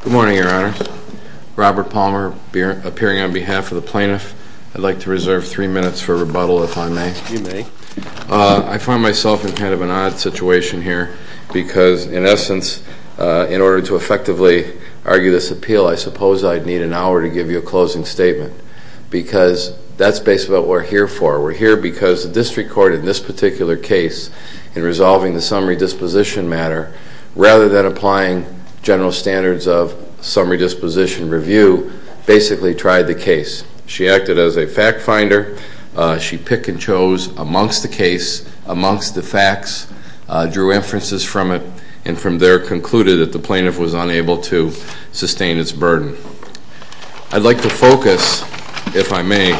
Good morning, Your Honors. Robert Palmer, appearing on behalf of the plaintiff, I'd like to reserve three minutes for rebuttal, if I may. You may. I find myself in kind of an odd situation here, because in essence, in order to effectively argue this appeal, I suppose I'd need an hour to give you a closing statement, because that's basically what we're here for. We're here because the district court in this particular case, in resolving the summary disposition matter, rather than applying general standards of summary disposition review, basically tried the case. She acted as a fact finder. She picked and chose amongst the case, amongst the facts, drew inferences from it, and from there concluded that the plaintiff was unable to sustain its burden. I'd like to focus, if I may,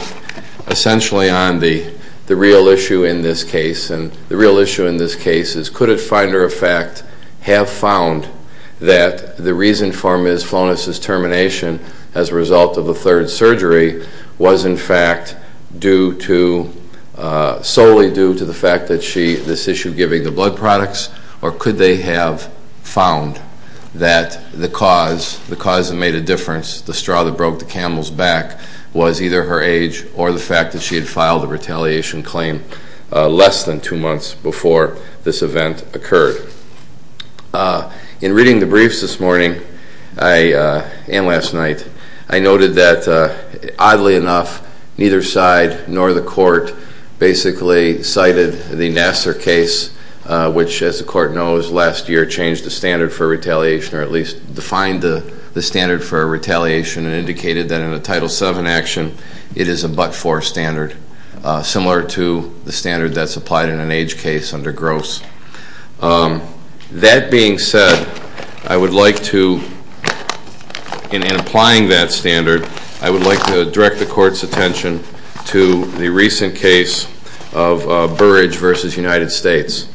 essentially on the real issue in this case, and the real issue in this case is, could a finder of fact have found that the reason for Ms. Flones's injury was in fact due to, solely due to the fact that she, this issue giving the blood products, or could they have found that the cause that made a difference, the straw that broke the camel's back, was either her age or the fact that she had filed a retaliation claim less than two months before this event occurred. In reading the briefs this morning, and last night, I noted that, oddly enough, neither side nor the court basically cited the Nassar case, which, as the court knows, last year changed the standard for retaliation, or at least defined the standard for retaliation and indicated that in a Title VII action, it is a but-for standard, similar to the standard that's applied in an age case under Gross. That being said, I would like to, in applying that standard, I would like to direct the court's attention to the recent case of Burridge v. United States.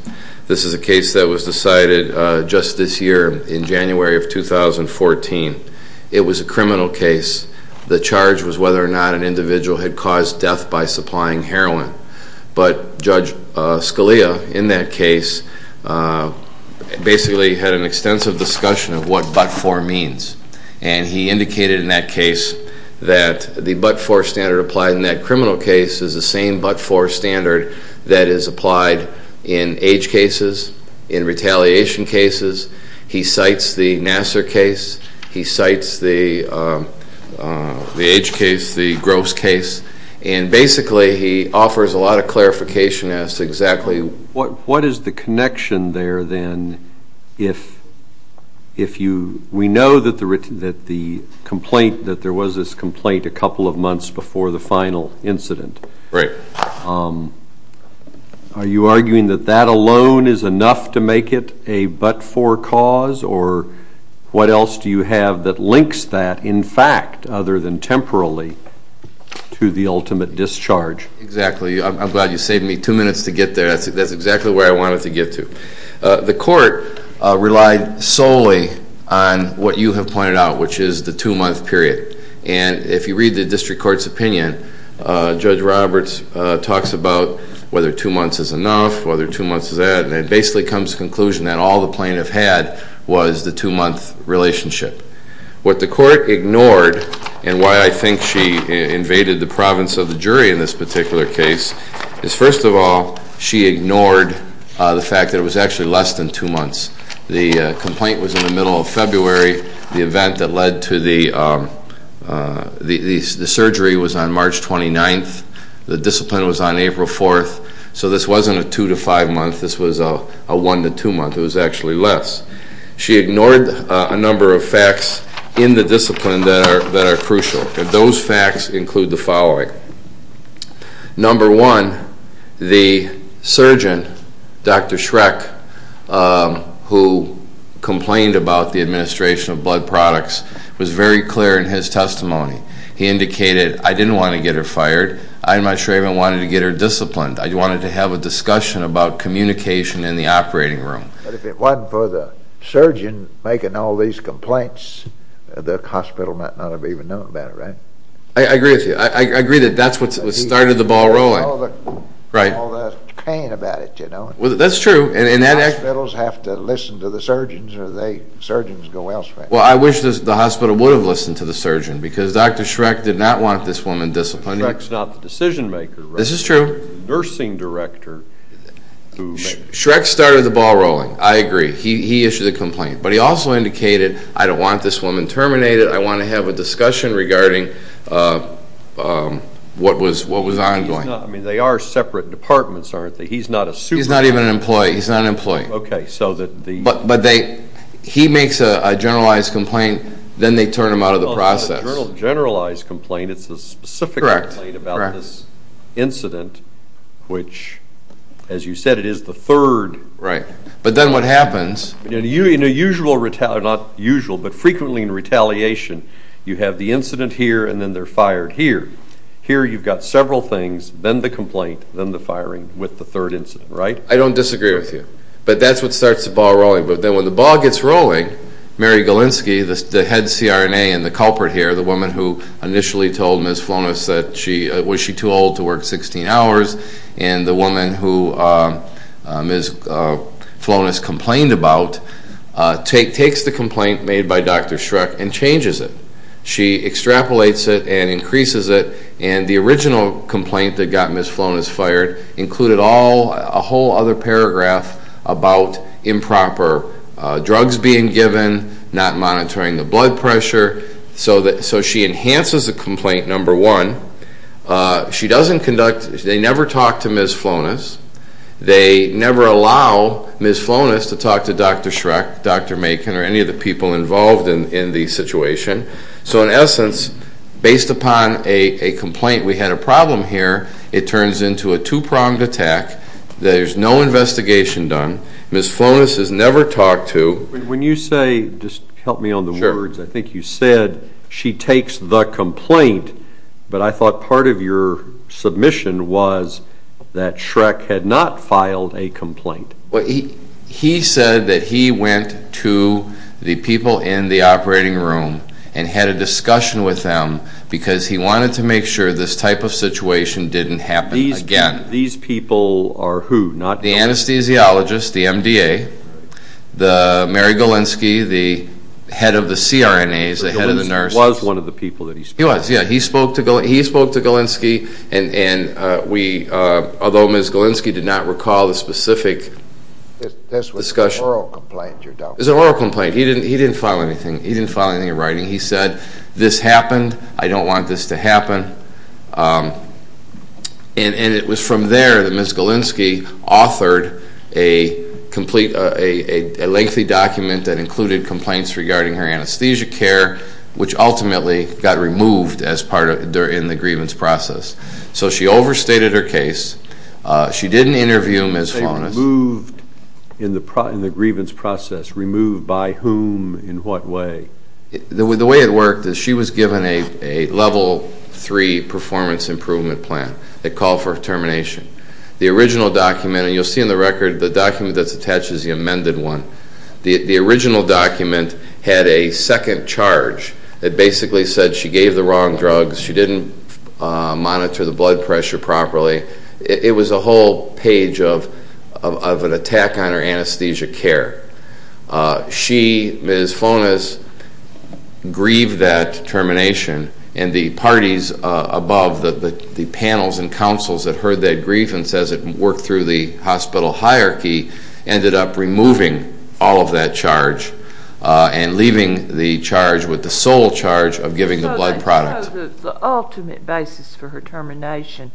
This is a case that was decided just this year, in January of 2014. It was a criminal case. The charge was whether or not an individual had caused death by supplying heroin. But Judge Scalia, in that case, basically had an extensive discussion of what but-for means, and he indicated in that case that the but-for standard applied in that criminal case is the same but-for standard that is applied in age cases, in retaliation cases. He cites the Nassar case, he cites the age case, the Gross case, and basically he offers a lot of clarification as to exactly what is the connection there, then, if you, we know that the complaint, that there was this complaint a couple of months before the final incident. Are you arguing that that alone is enough to make it a but-for cause, or what else do you have that links that, in fact, other than temporally, to the ultimate discharge? Exactly. I'm glad you saved me two minutes to get there. That's exactly where I wanted to get to. The court relied solely on what you have pointed out, which is the two-month period. If you read the district court's opinion, Judge Roberts talks about whether two months is enough, whether two months is that, and it basically comes to the conclusion that all the plaintiff had was the two-month relationship. What the court ignored, and why I think she invaded the province of the jury in this particular case, is first of all, she ignored the fact that it was actually less than two months. The complaint was in the middle of February, the event that led to the surgery was on March 29th, the discipline was on April 4th, so this wasn't a two-to-five month, this was a one-to-two month, it was actually less. She ignored a number of facts in the discipline that are crucial, and those facts include the following. Number one, the surgeon, Dr. Schreck, who complained about the administration of blood products, was very clear in his testimony. He indicated, I didn't want to get her fired, I and my traitor wanted to get her disciplined, I wanted to have a discussion about communication in the operating room. But if it wasn't for the surgeon making all these complaints, the hospital might not have even known about it, right? I agree with you. I agree that that's what started the ball rolling. Right. All the pain about it, you know. That's true. Hospitals have to listen to the surgeons, or the surgeons go elsewhere. Well, I wish the hospital would have listened to the surgeon, because Dr. Schreck did not want this woman disciplined. Schreck's not the decision-maker, right? This is true. The nursing director who made the decision. Schreck started the ball rolling, I agree. He issued a complaint. But he also indicated, I don't want this woman terminated, I want to have a discussion regarding what was ongoing. They are separate departments, aren't they? He's not a supervisor. He's not even an employee. He's not an employee. Okay. So that the... But he makes a generalized complaint, then they turn him out of the process. Well, it's not a generalized complaint, it's a specific complaint about this incident, which as you said, it is the third. Right. But then what happens... In a usual, not usual, but frequently in retaliation, you have the incident here, and then they're fired here. Here you've got several things, then the complaint, then the firing, with the third incident, right? I don't disagree with you. But that's what starts the ball rolling. But then when the ball gets rolling, Mary Galinsky, the head CRNA and the culprit here, the woman who initially told Ms. Flonis that she, was she too old to work 16 hours, and the woman who Ms. Flonis complained about, takes the complaint made by Dr. Schreck and changes it. She extrapolates it and increases it, and the original complaint that got Ms. Flonis fired included all, a whole other paragraph about improper drugs being given, not monitoring the blood pressure, so she enhances the complaint, number one. She doesn't conduct, they never talk to Ms. Flonis. They never allow Ms. Flonis to talk to Dr. Schreck, Dr. Macon, or any of the people involved in the situation. So in essence, based upon a complaint, we had a problem here, it turns into a two-pronged attack, there's no investigation done, Ms. Flonis is never talked to. When you say, just help me on the words, I think you said, she takes the complaint, but I thought part of your submission was that Schreck had not filed a complaint. He said that he went to the people in the operating room and had a discussion with them because he wanted to make sure this type of situation didn't happen again. These people are who? The anesthesiologist, the MDA, Mary Golinski, the head of the CRNAs, the head of the nurses. He was, yeah, he spoke to Golinski, and we, although Ms. Golinski did not recall the specific discussion. This was an oral complaint, you're talking about? This was an oral complaint, he didn't file anything, he didn't file anything in writing. He said, this happened, I don't want this to happen, and it was from there that Ms. Golinski authored a lengthy document that included complaints regarding her anesthesia care, which ultimately got removed as part of, in the grievance process. So she overstated her case, she didn't interview Ms. Flonis. Removed in the grievance process, removed by whom, in what way? The way it worked is she was given a level three performance improvement plan, a call for termination. The original document, and you'll see in the record, the document that's attached is the amended one. The original document had a second charge that basically said she gave the wrong drugs, she didn't monitor the blood pressure properly. It was a whole page of an attack on her anesthesia care. She, Ms. Flonis, grieved that termination, and the parties above, the panels and councils that heard that grief and says it worked through the hospital hierarchy, ended up removing all of that charge and leaving the charge with the sole charge of giving the blood product. So the ultimate basis for her termination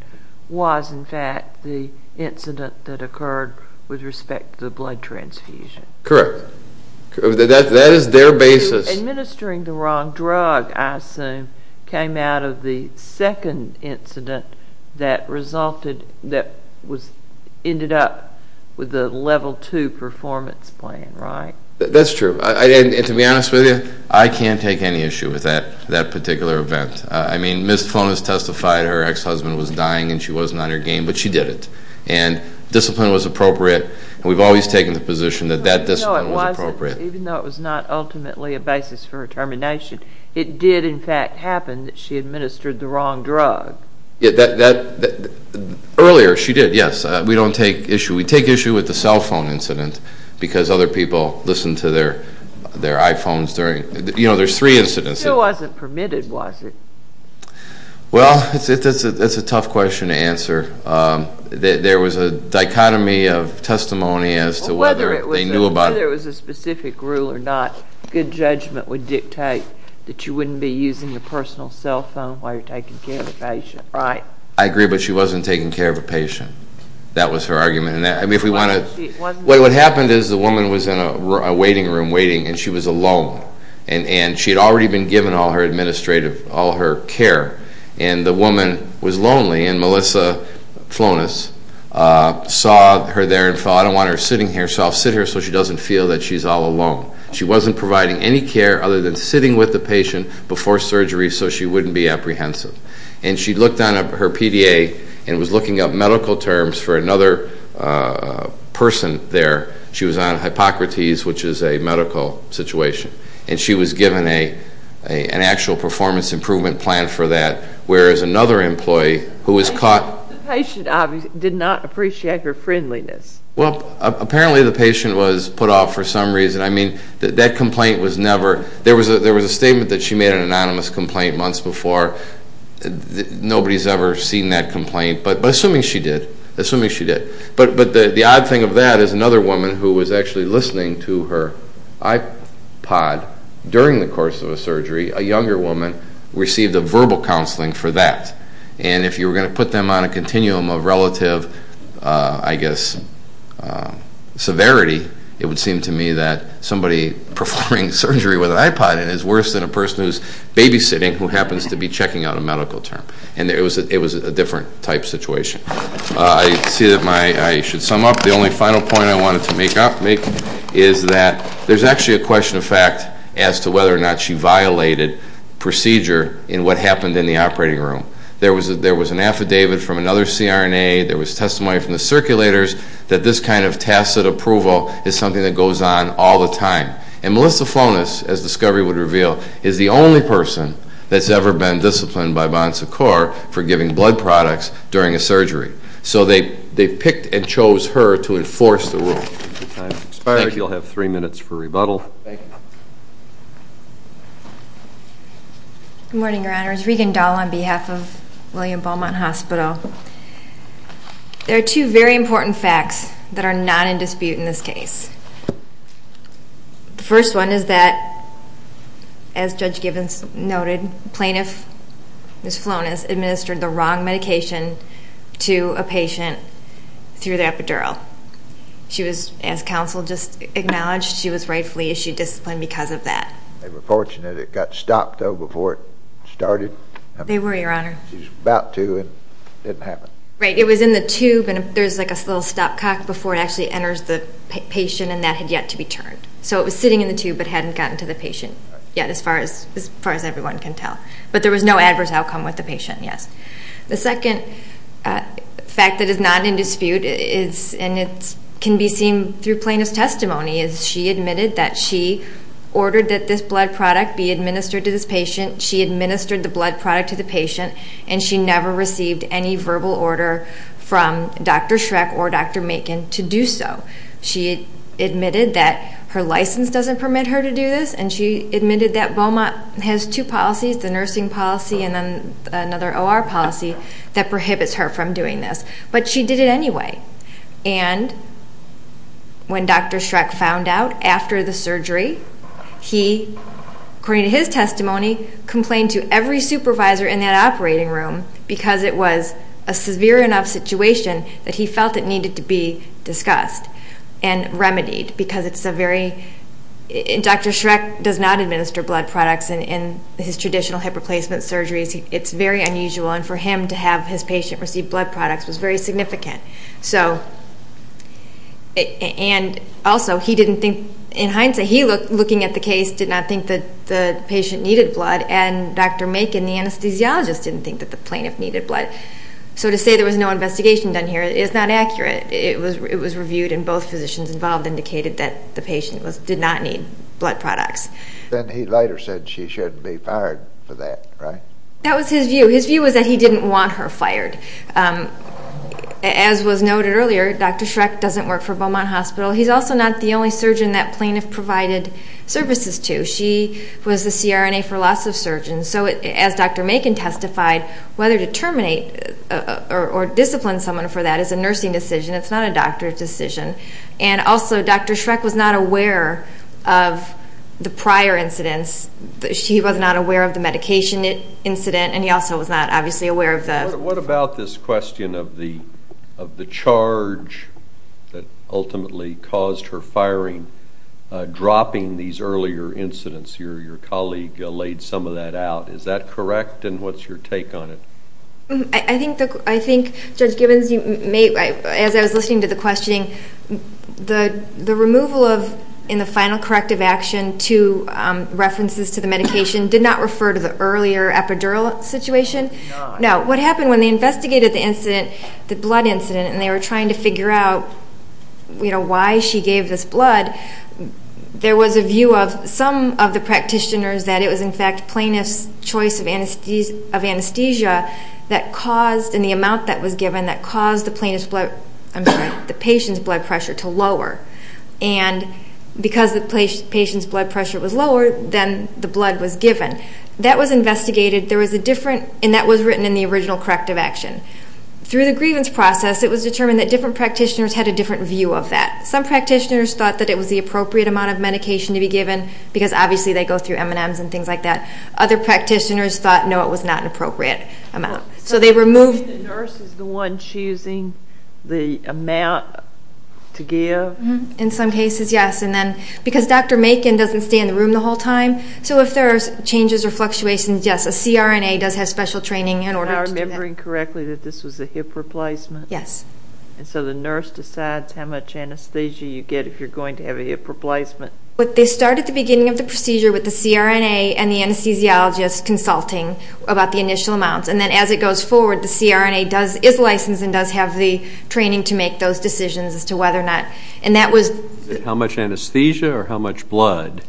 was, in fact, the incident that occurred with respect to the blood transfusion. Correct. That is their basis. Administering the wrong drug, I assume, came out of the second incident that resulted, that ended up with a level two performance plan, right? That's true. And to be honest with you, I can't take any issue with that particular event. I mean, Ms. Flonis testified her ex-husband was dying and she wasn't on her game, but she did it, and discipline was appropriate, and we've always taken the position that that discipline was appropriate. Even though it was not ultimately a basis for her termination, it did, in fact, happen that she administered the wrong drug. Earlier, she did, yes. We don't take issue. We take issue with the cell phone incident because other people listen to their iPhones during, you know, there's three incidents. It still wasn't permitted, was it? Well, that's a tough question to answer. There was a dichotomy of testimony as to whether they knew about it. Whether there was a specific rule or not, good judgment would dictate that you wouldn't be using your personal cell phone while you're taking care of a patient, right? I agree, but she wasn't taking care of a patient. That was her argument. I mean, if we want to, what happened is the woman was in a waiting room, waiting, and she was alone, and she had already been given all her administrative, all her care, and the woman was lonely, and Melissa Flonis saw her there and thought, I don't want her sitting here, so I'll sit here so she doesn't feel that she's all alone. She wasn't providing any care other than sitting with the patient before surgery so she wouldn't be apprehensive, and she looked on her PDA and was looking up medical terms for another person there. She was on Hippocrates, which is a medical situation, and she was given an actual performance improvement plan for that, whereas another employee who was caught... The patient obviously did not appreciate her friendliness. Well, apparently the patient was put off for some reason. I mean, that complaint was never... There was a statement that she made an anonymous complaint months before. Nobody's ever seen that complaint, but assuming she did, assuming she did, but the odd thing of that is another woman who was actually listening to her iPod during the course of a surgery, a younger woman, received a verbal counseling for that, and if you were going to put them on a continuum of relative, I guess, severity, it would seem to me that somebody performing surgery with an iPod in it is worse than a person who's babysitting who happens to be checking out a medical term, and it was a different type situation. I see that my... I should sum up. The only final point I wanted to make is that there's actually a question of fact as to whether or not she violated procedure in what happened in the operating room. There was an affidavit from another CRNA. There was testimony from the circulators that this kind of tacit approval is something that goes on all the time, and Melissa Flonis, as discovery would reveal, is the only person that's ever been disciplined by Bon Secours for giving blood products during a surgery, so they picked and chose her to enforce the rule. Your time has expired. Thank you. You'll have three minutes for rebuttal. Thank you. Good morning, Your Honors. Regan Dahl on behalf of William Beaumont Hospital. There are two very important facts that are not in dispute in this case. The first one is that, as Judge Gibbons noted, plaintiff, Ms. Flonis, administered the wrong medication to a patient through the epidural. She was, as counsel just acknowledged, she was rightfully issued discipline because of that. They were fortunate it got stopped, though, before it started. They were, Your Honor. She was about to, and it didn't happen. Right. It was in the tube, and there's like a little stopcock before it actually enters the patient, and that had yet to be turned. So, it was sitting in the tube but hadn't gotten to the patient yet, as far as everyone can tell. But there was no adverse outcome with the patient, yes. The second fact that is not in dispute is, and it can be seen through plaintiff's testimony, is she admitted that she ordered that this blood product be administered to this patient. She administered the blood product to the patient, and she never received any verbal order from Dr. Schreck or Dr. Macon to do so. She admitted that her license doesn't permit her to do this, and she admitted that Beaumont has two policies, the nursing policy and then another OR policy that prohibits her from doing this. But she did it anyway. And when Dr. Schreck found out after the surgery, he, according to his testimony, complained to every supervisor in that operating room because it was a severe enough situation that he felt it needed to be discussed and remedied because it's a very – Dr. Schreck does not administer blood products in his traditional hip replacement surgeries. It's very unusual, and for him to have his patient receive blood products was very significant. So – and also, he didn't think – in hindsight, he, looking at the case, did not think that the patient needed blood, and Dr. Macon, the anesthesiologist, didn't think that the plaintiff needed blood. So to say there was no investigation done here is not accurate. It was reviewed, and both physicians involved indicated that the patient did not need blood products. Then he later said she shouldn't be fired for that, right? That was his view. His view was that he didn't want her fired. As was noted earlier, Dr. Schreck doesn't work for Beaumont Hospital. He's also not the only surgeon that plaintiff provided services to. She was the CRNA for lots of surgeons. So as Dr. Macon testified, whether to terminate or discipline someone for that is a nursing decision. It's not a doctor's decision. And also, Dr. Schreck was not aware of the prior incidents. She was not aware of the medication incident, and he also was not obviously aware of the – What about this question of the charge that ultimately caused her firing, dropping these earlier incidents? Your colleague laid some of that out. Is that correct, and what's your take on it? I think, Judge Gibbons, as I was listening to the questioning, the removal of, in the cases to the medication, did not refer to the earlier epidural situation? No. No. What happened when they investigated the incident, the blood incident, and they were trying to figure out why she gave this blood, there was a view of some of the practitioners that it was in fact plaintiff's choice of anesthesia that caused, and the amount that was given that caused the patient's blood pressure to lower. And because the patient's blood pressure was lower, then the blood was given. That was investigated. There was a different – and that was written in the original corrective action. Through the grievance process, it was determined that different practitioners had a different view of that. Some practitioners thought that it was the appropriate amount of medication to be given because obviously they go through M&Ms and things like that. Other practitioners thought, no, it was not an appropriate amount. So they removed – Do you think the nurse is the one choosing the amount to give? In some cases, yes. And then because Dr. Makin doesn't stay in the room the whole time, so if there are changes or fluctuations, yes, a CRNA does have special training in order to do that. Am I remembering correctly that this was a hip replacement? Yes. And so the nurse decides how much anesthesia you get if you're going to have a hip replacement? They start at the beginning of the procedure with the CRNA and the anesthesiologist consulting about the initial amounts. And then as it goes forward, the CRNA is licensed and does have the training to make those decisions as to whether or not – and that was – How much anesthesia or how much blood?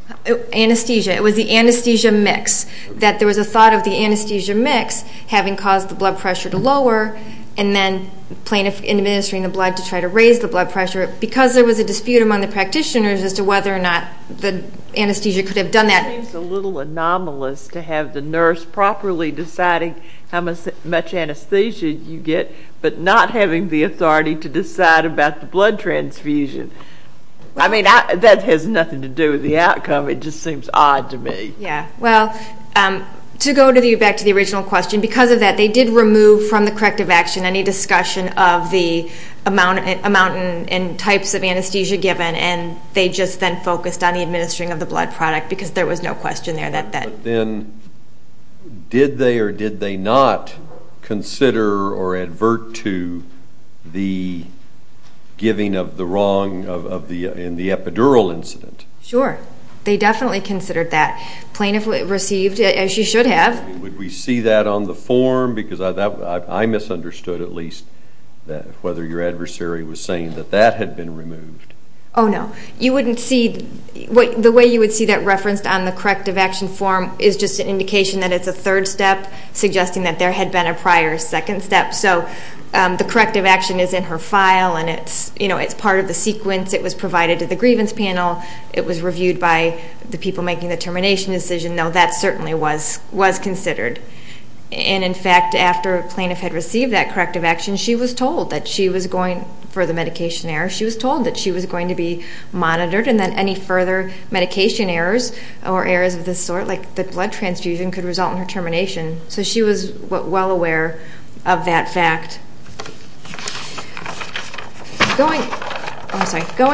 Anesthesia. It was the anesthesia mix. There was a thought of the anesthesia mix having caused the blood pressure to lower and then administering the blood to try to raise the blood pressure because there was a dispute among the practitioners as to whether or not the anesthesia could have done that. That seems a little anomalous to have the nurse properly deciding how much anesthesia you get but not having the authority to decide about the blood transfusion. I mean, that has nothing to do with the outcome. It just seems odd to me. Yes. Well, to go back to the original question, because of that, they did remove from the corrective action any discussion of the amount and types of anesthesia given, and they just then focused on the administering of the blood product because there was no question there that that – But then did they or did they not consider or advert to the giving of the wrong in the epidural incident? Sure. They definitely considered that. Plaintiff received, as you should have – Would we see that on the form? Because I misunderstood at least whether your adversary was saying that that had been removed. Oh, no. You wouldn't see – The way you would see that referenced on the corrective action form is just an indication that it's a third step, suggesting that there had been a prior second step. So the corrective action is in her file, and it's part of the sequence. It was provided to the grievance panel. It was reviewed by the people making the termination decision, though that certainly was considered. And, in fact, after a plaintiff had received that corrective action, she was told that she was going – monitored and that any further medication errors or errors of this sort, like the blood transfusion, could result in her termination. So she was well aware of that fact. Going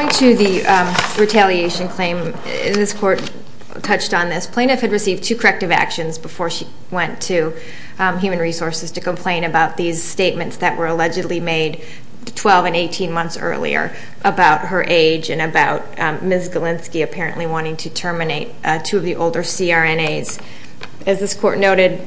to the retaliation claim, this court touched on this. Plaintiff had received two corrective actions before she went to Human Resources to complain about these statements that were allegedly made 12 and 18 months earlier about her age and about Ms. Galinsky apparently wanting to terminate two of the older CRNAs. As this court noted,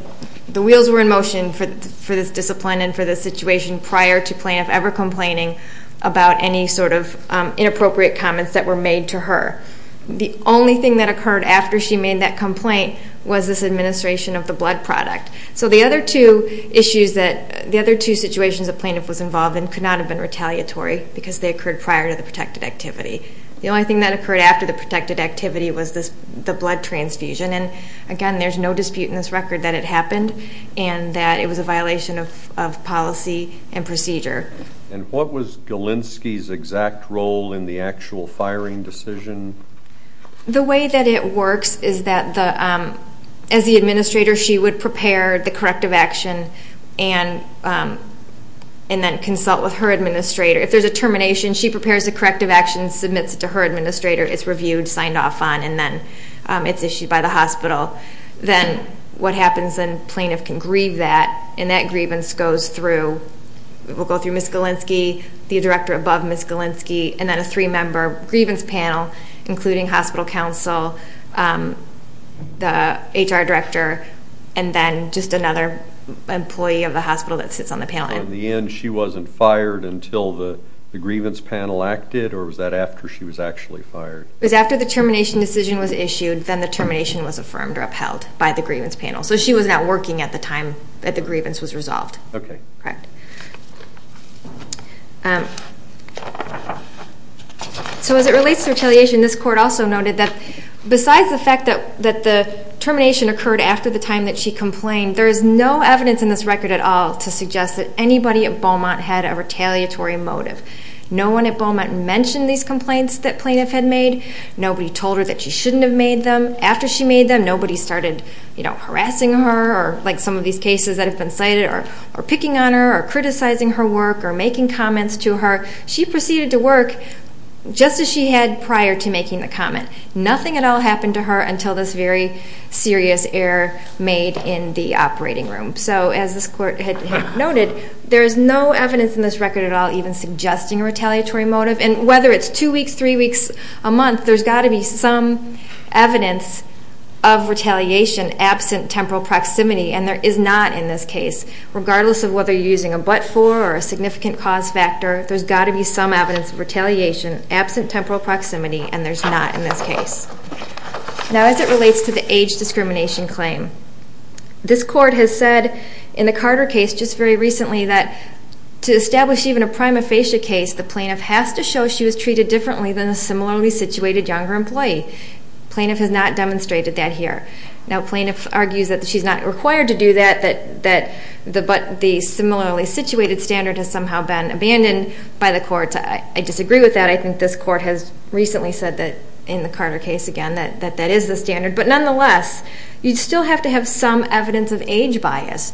the wheels were in motion for this discipline and for this situation prior to plaintiff ever complaining about any sort of inappropriate comments that were made to her. The only thing that occurred after she made that complaint was this administration of the blood product. So the other two issues that – the other two situations that plaintiff was involved in could not have been retaliatory because they occurred prior to the protected activity. The only thing that occurred after the protected activity was the blood transfusion. And, again, there's no dispute in this record that it happened and that it was a violation of policy and procedure. And what was Galinsky's exact role in the actual firing decision? The way that it works is that, as the administrator, she would prepare the corrective action and then consult with her administrator. If there's a termination, she prepares the corrective action, submits it to her administrator, it's reviewed, signed off on, and then it's issued by the hospital. Then what happens is the plaintiff can grieve that, and that grievance goes through – it will go through Ms. Galinsky, the director above Ms. Galinsky, and then a three-member grievance panel, including hospital counsel, the HR director, and then just another employee of the hospital that sits on the panel. So in the end, she wasn't fired until the grievance panel acted, or was that after she was actually fired? It was after the termination decision was issued, then the termination was affirmed or upheld by the grievance panel. So she was not working at the time that the grievance was resolved. Okay. Correct. So as it relates to retaliation, this court also noted that, that the termination occurred after the time that she complained. There is no evidence in this record at all to suggest that anybody at Beaumont had a retaliatory motive. No one at Beaumont mentioned these complaints that plaintiff had made. Nobody told her that she shouldn't have made them. After she made them, nobody started harassing her, or like some of these cases that have been cited, or picking on her or criticizing her work or making comments to her. She proceeded to work just as she had prior to making the comment. Nothing at all happened to her until this very serious error made in the operating room. So as this court had noted, there is no evidence in this record at all even suggesting a retaliatory motive. And whether it's two weeks, three weeks, a month, there's got to be some evidence of retaliation absent temporal proximity, and there is not in this case. Regardless of whether you're using a but-for or a significant cause factor, there's got to be some evidence of retaliation absent temporal proximity, and there's not in this case. Now as it relates to the age discrimination claim, this court has said in the Carter case just very recently that to establish even a prima facie case, the plaintiff has to show she was treated differently than a similarly situated younger employee. Plaintiff has not demonstrated that here. Now plaintiff argues that she's not required to do that, that the similarly situated standard has somehow been abandoned by the court. I disagree with that. I think this court has recently said that in the Carter case again that that is the standard. But nonetheless, you still have to have some evidence of age bias,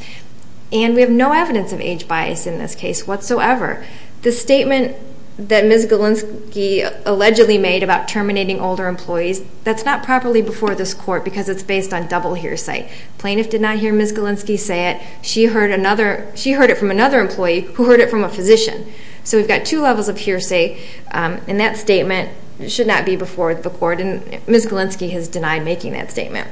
and we have no evidence of age bias in this case whatsoever. The statement that Ms. Galinsky allegedly made about terminating older employees, that's not properly before this court because it's based on double hearsay. Plaintiff did not hear Ms. Galinsky say it. She heard it from another employee who heard it from a physician. So we've got two levels of hearsay, and that statement should not be before the court, and Ms. Galinsky has denied making that statement.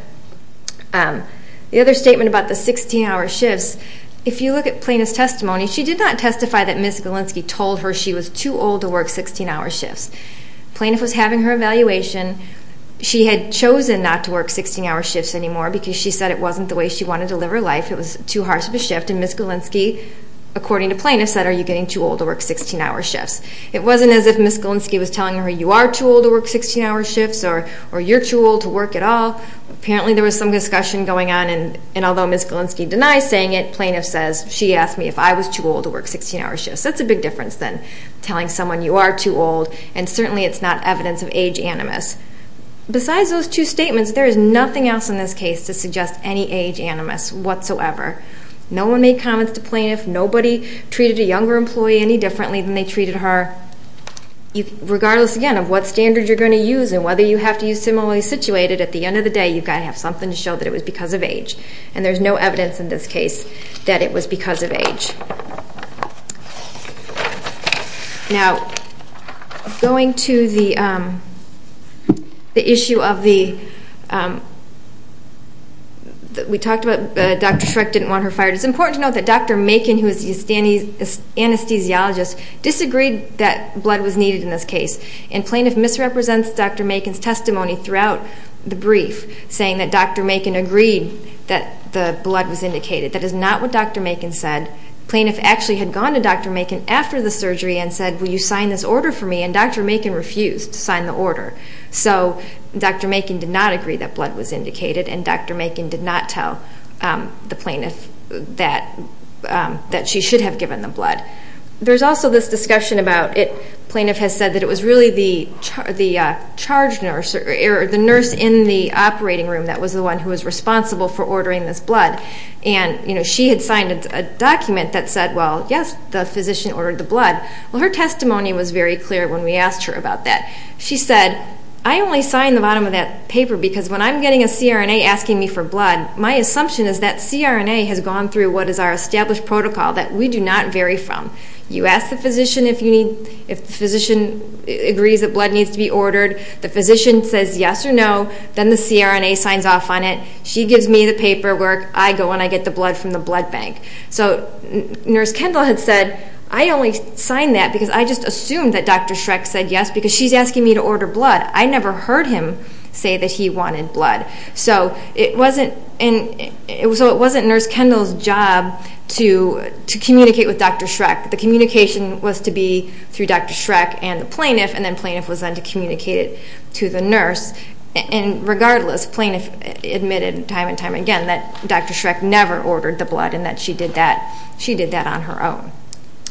The other statement about the 16-hour shifts, if you look at plaintiff's testimony, she did not testify that Ms. Galinsky told her she was too old to work 16-hour shifts. Plaintiff was having her evaluation. She had chosen not to work 16-hour shifts anymore because she said it wasn't the way she wanted to live her life. It was too harsh of a shift, and Ms. Galinsky, according to plaintiff, said, are you getting too old to work 16-hour shifts? It wasn't as if Ms. Galinsky was telling her you are too old to work 16-hour shifts or you're too old to work at all. Apparently there was some discussion going on, and although Ms. Galinsky denies saying it, plaintiff says she asked me if I was too old to work 16-hour shifts. That's a big difference than telling someone you are too old, and certainly it's not evidence of age animus. Besides those two statements, there is nothing else in this case to suggest any age animus whatsoever. No one made comments to plaintiff. Nobody treated a younger employee any differently than they treated her. Regardless, again, of what standard you're going to use and whether you have to use similarly situated, at the end of the day you've got to have something to show that it was because of age, and there's no evidence in this case that it was because of age. Now, going to the issue of the... We talked about Dr. Shrek didn't want her fired. It's important to note that Dr. Macon, who is the anesthesiologist, disagreed that blood was needed in this case, and plaintiff misrepresents Dr. Macon's testimony throughout the brief saying that Dr. Macon agreed that the blood was indicated. That is not what Dr. Macon said. Plaintiff actually had gone to Dr. Macon after the surgery and said, will you sign this order for me, and Dr. Macon refused to sign the order. So Dr. Macon did not agree that blood was indicated, and Dr. Macon did not tell the plaintiff that she should have given the blood. There's also this discussion about it. Plaintiff has said that it was really the nurse in the operating room that was the one who was responsible for ordering this blood, and she had signed a document that said, well, yes, the physician ordered the blood. Well, her testimony was very clear when we asked her about that. She said, I only signed the bottom of that paper because when I'm getting a CRNA asking me for blood, my assumption is that CRNA has gone through what is our established protocol that we do not vary from. You ask the physician if the physician agrees that blood needs to be ordered. The physician says yes or no. Then the CRNA signs off on it. She gives me the paperwork. I go and I get the blood from the blood bank. So Nurse Kendall had said, I only signed that because I just assumed that Dr. Schreck said yes because she's asking me to order blood. I never heard him say that he wanted blood. So it wasn't Nurse Kendall's job to communicate with Dr. Schreck. The communication was to be through Dr. Schreck and the plaintiff, and then plaintiff was then to communicate it to the nurse. And regardless, plaintiff admitted time and time again that Dr. Schreck never ordered the blood and that she did that on her own.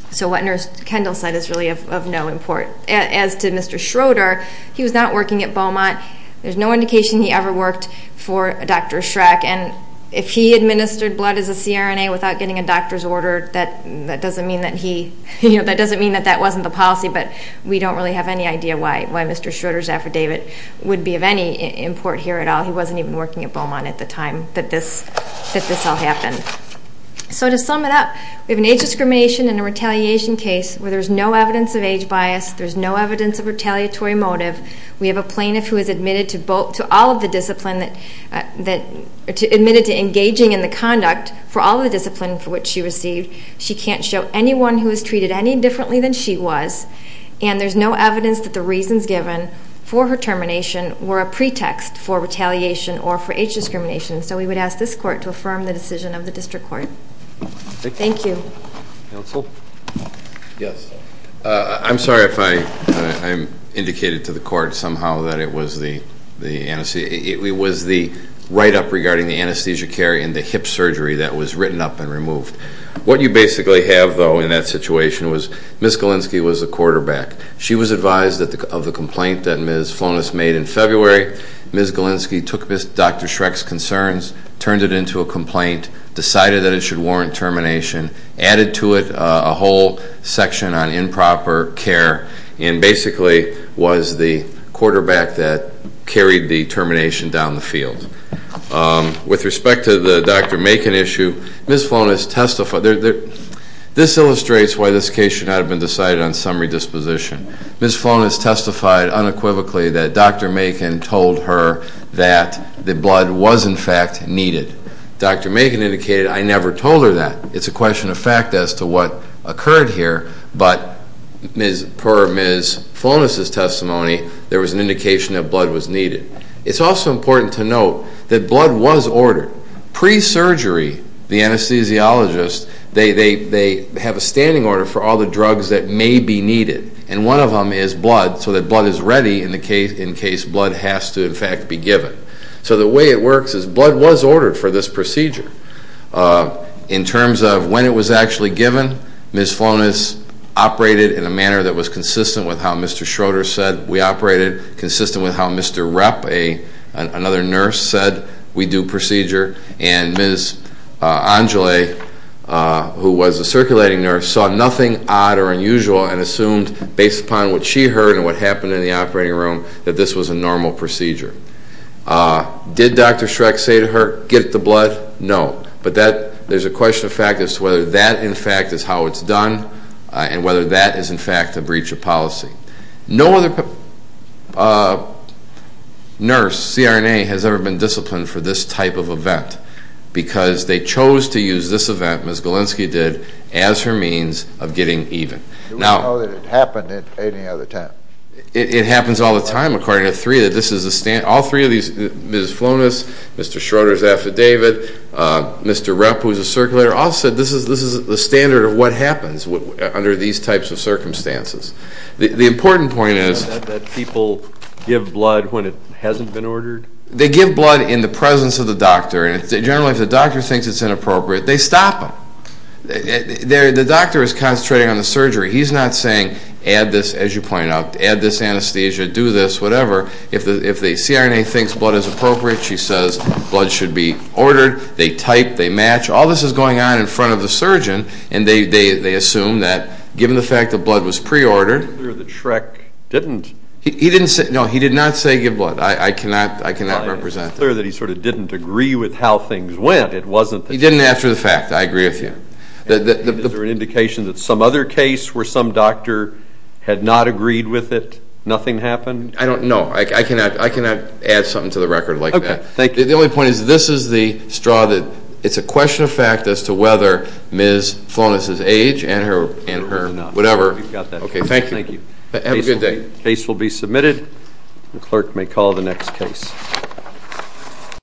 So what Nurse Kendall said is really of no import. As to Mr. Schroeder, he was not working at Beaumont. There's no indication he ever worked for Dr. Schreck. And if he administered blood as a CRNA without getting a doctor's order, that doesn't mean that that wasn't the policy, but we don't really have any idea why Mr. Schroeder's affidavit would be of any import here at all. He wasn't even working at Beaumont at the time that this all happened. So to sum it up, we have an age discrimination and a retaliation case where there's no evidence of age bias. There's no evidence of retaliatory motive. We have a plaintiff who is admitted to all of the discipline that admitted to engaging in the conduct for all the discipline for which she received. She can't show anyone who was treated any differently than she was, and there's no evidence that the reasons given for her termination were a pretext for retaliation or for age discrimination. So we would ask this court to affirm the decision of the district court. Thank you. Counsel? Yes. I'm sorry if I indicated to the court somehow that it was the write-up regarding the anesthesia care and the hip surgery that was written up and removed. What you basically have, though, in that situation was Ms. Galinsky was the quarterback. She was advised of the complaint that Ms. Flonis made in February. Ms. Galinsky took Dr. Schreck's concerns, turned it into a complaint, decided that it should warrant termination, added to it a whole section on improper care, and basically was the quarterback that carried the termination down the field. With respect to the Dr. Macon issue, Ms. Flonis testified. This illustrates why this case should not have been decided on summary disposition. Ms. Flonis testified unequivocally that Dr. Macon told her that the blood was, in fact, needed. Dr. Macon indicated, I never told her that. It's a question of fact as to what occurred here. But per Ms. Flonis' testimony, there was an indication that blood was needed. It's also important to note that blood was ordered. Pre-surgery, the anesthesiologist, they have a standing order for all the drugs that may be needed, and one of them is blood so that blood is ready in case blood has to, in fact, be given. So the way it works is blood was ordered for this procedure. In terms of when it was actually given, Ms. Flonis operated in a manner that was consistent with how Mr. Schroeder said we operated, consistent with how Mr. Repp, another nurse, said we do procedure, and Ms. Angele, who was a circulating nurse, saw nothing odd or unusual and assumed based upon what she heard and what happened in the operating room that this was a normal procedure. Did Dr. Schreck say to her, get the blood? No. But there's a question of fact as to whether that, in fact, is how it's done and whether that is, in fact, a breach of policy. No other nurse, CRNA, has ever been disciplined for this type of event because they chose to use this event, as Ms. Galinsky did, as her means of getting even. Do we know that it happened at any other time? It happens all the time, according to three, that this is a standard. All three of these, Ms. Flonis, Mr. Schroeder's affidavit, Mr. Repp, who was a circulator, all said this is the standard of what happens under these types of circumstances. The important point is that people give blood when it hasn't been ordered. They give blood in the presence of the doctor, and generally if the doctor thinks it's inappropriate, they stop him. The doctor is concentrating on the surgery. He's not saying add this, as you pointed out, add this anesthesia, do this, whatever. If the CRNA thinks blood is appropriate, she says blood should be ordered. They type, they match. All this is going on in front of the surgeon, and they assume that given the fact that blood was preordered. It's clear that Schreck didn't. He didn't say, no, he did not say give blood. I cannot represent that. It's clear that he sort of didn't agree with how things went. He didn't after the fact. I agree with you. Is there an indication that some other case where some doctor had not agreed with it, nothing happened? I don't know. I cannot add something to the record like that. Okay. Thank you. The only point is this is the straw that it's a question of fact as to whether Ms. Flonis' age and her whatever. We've got that. Okay. Thank you. Thank you. Have a good day. The case will be submitted. The clerk may call the next case.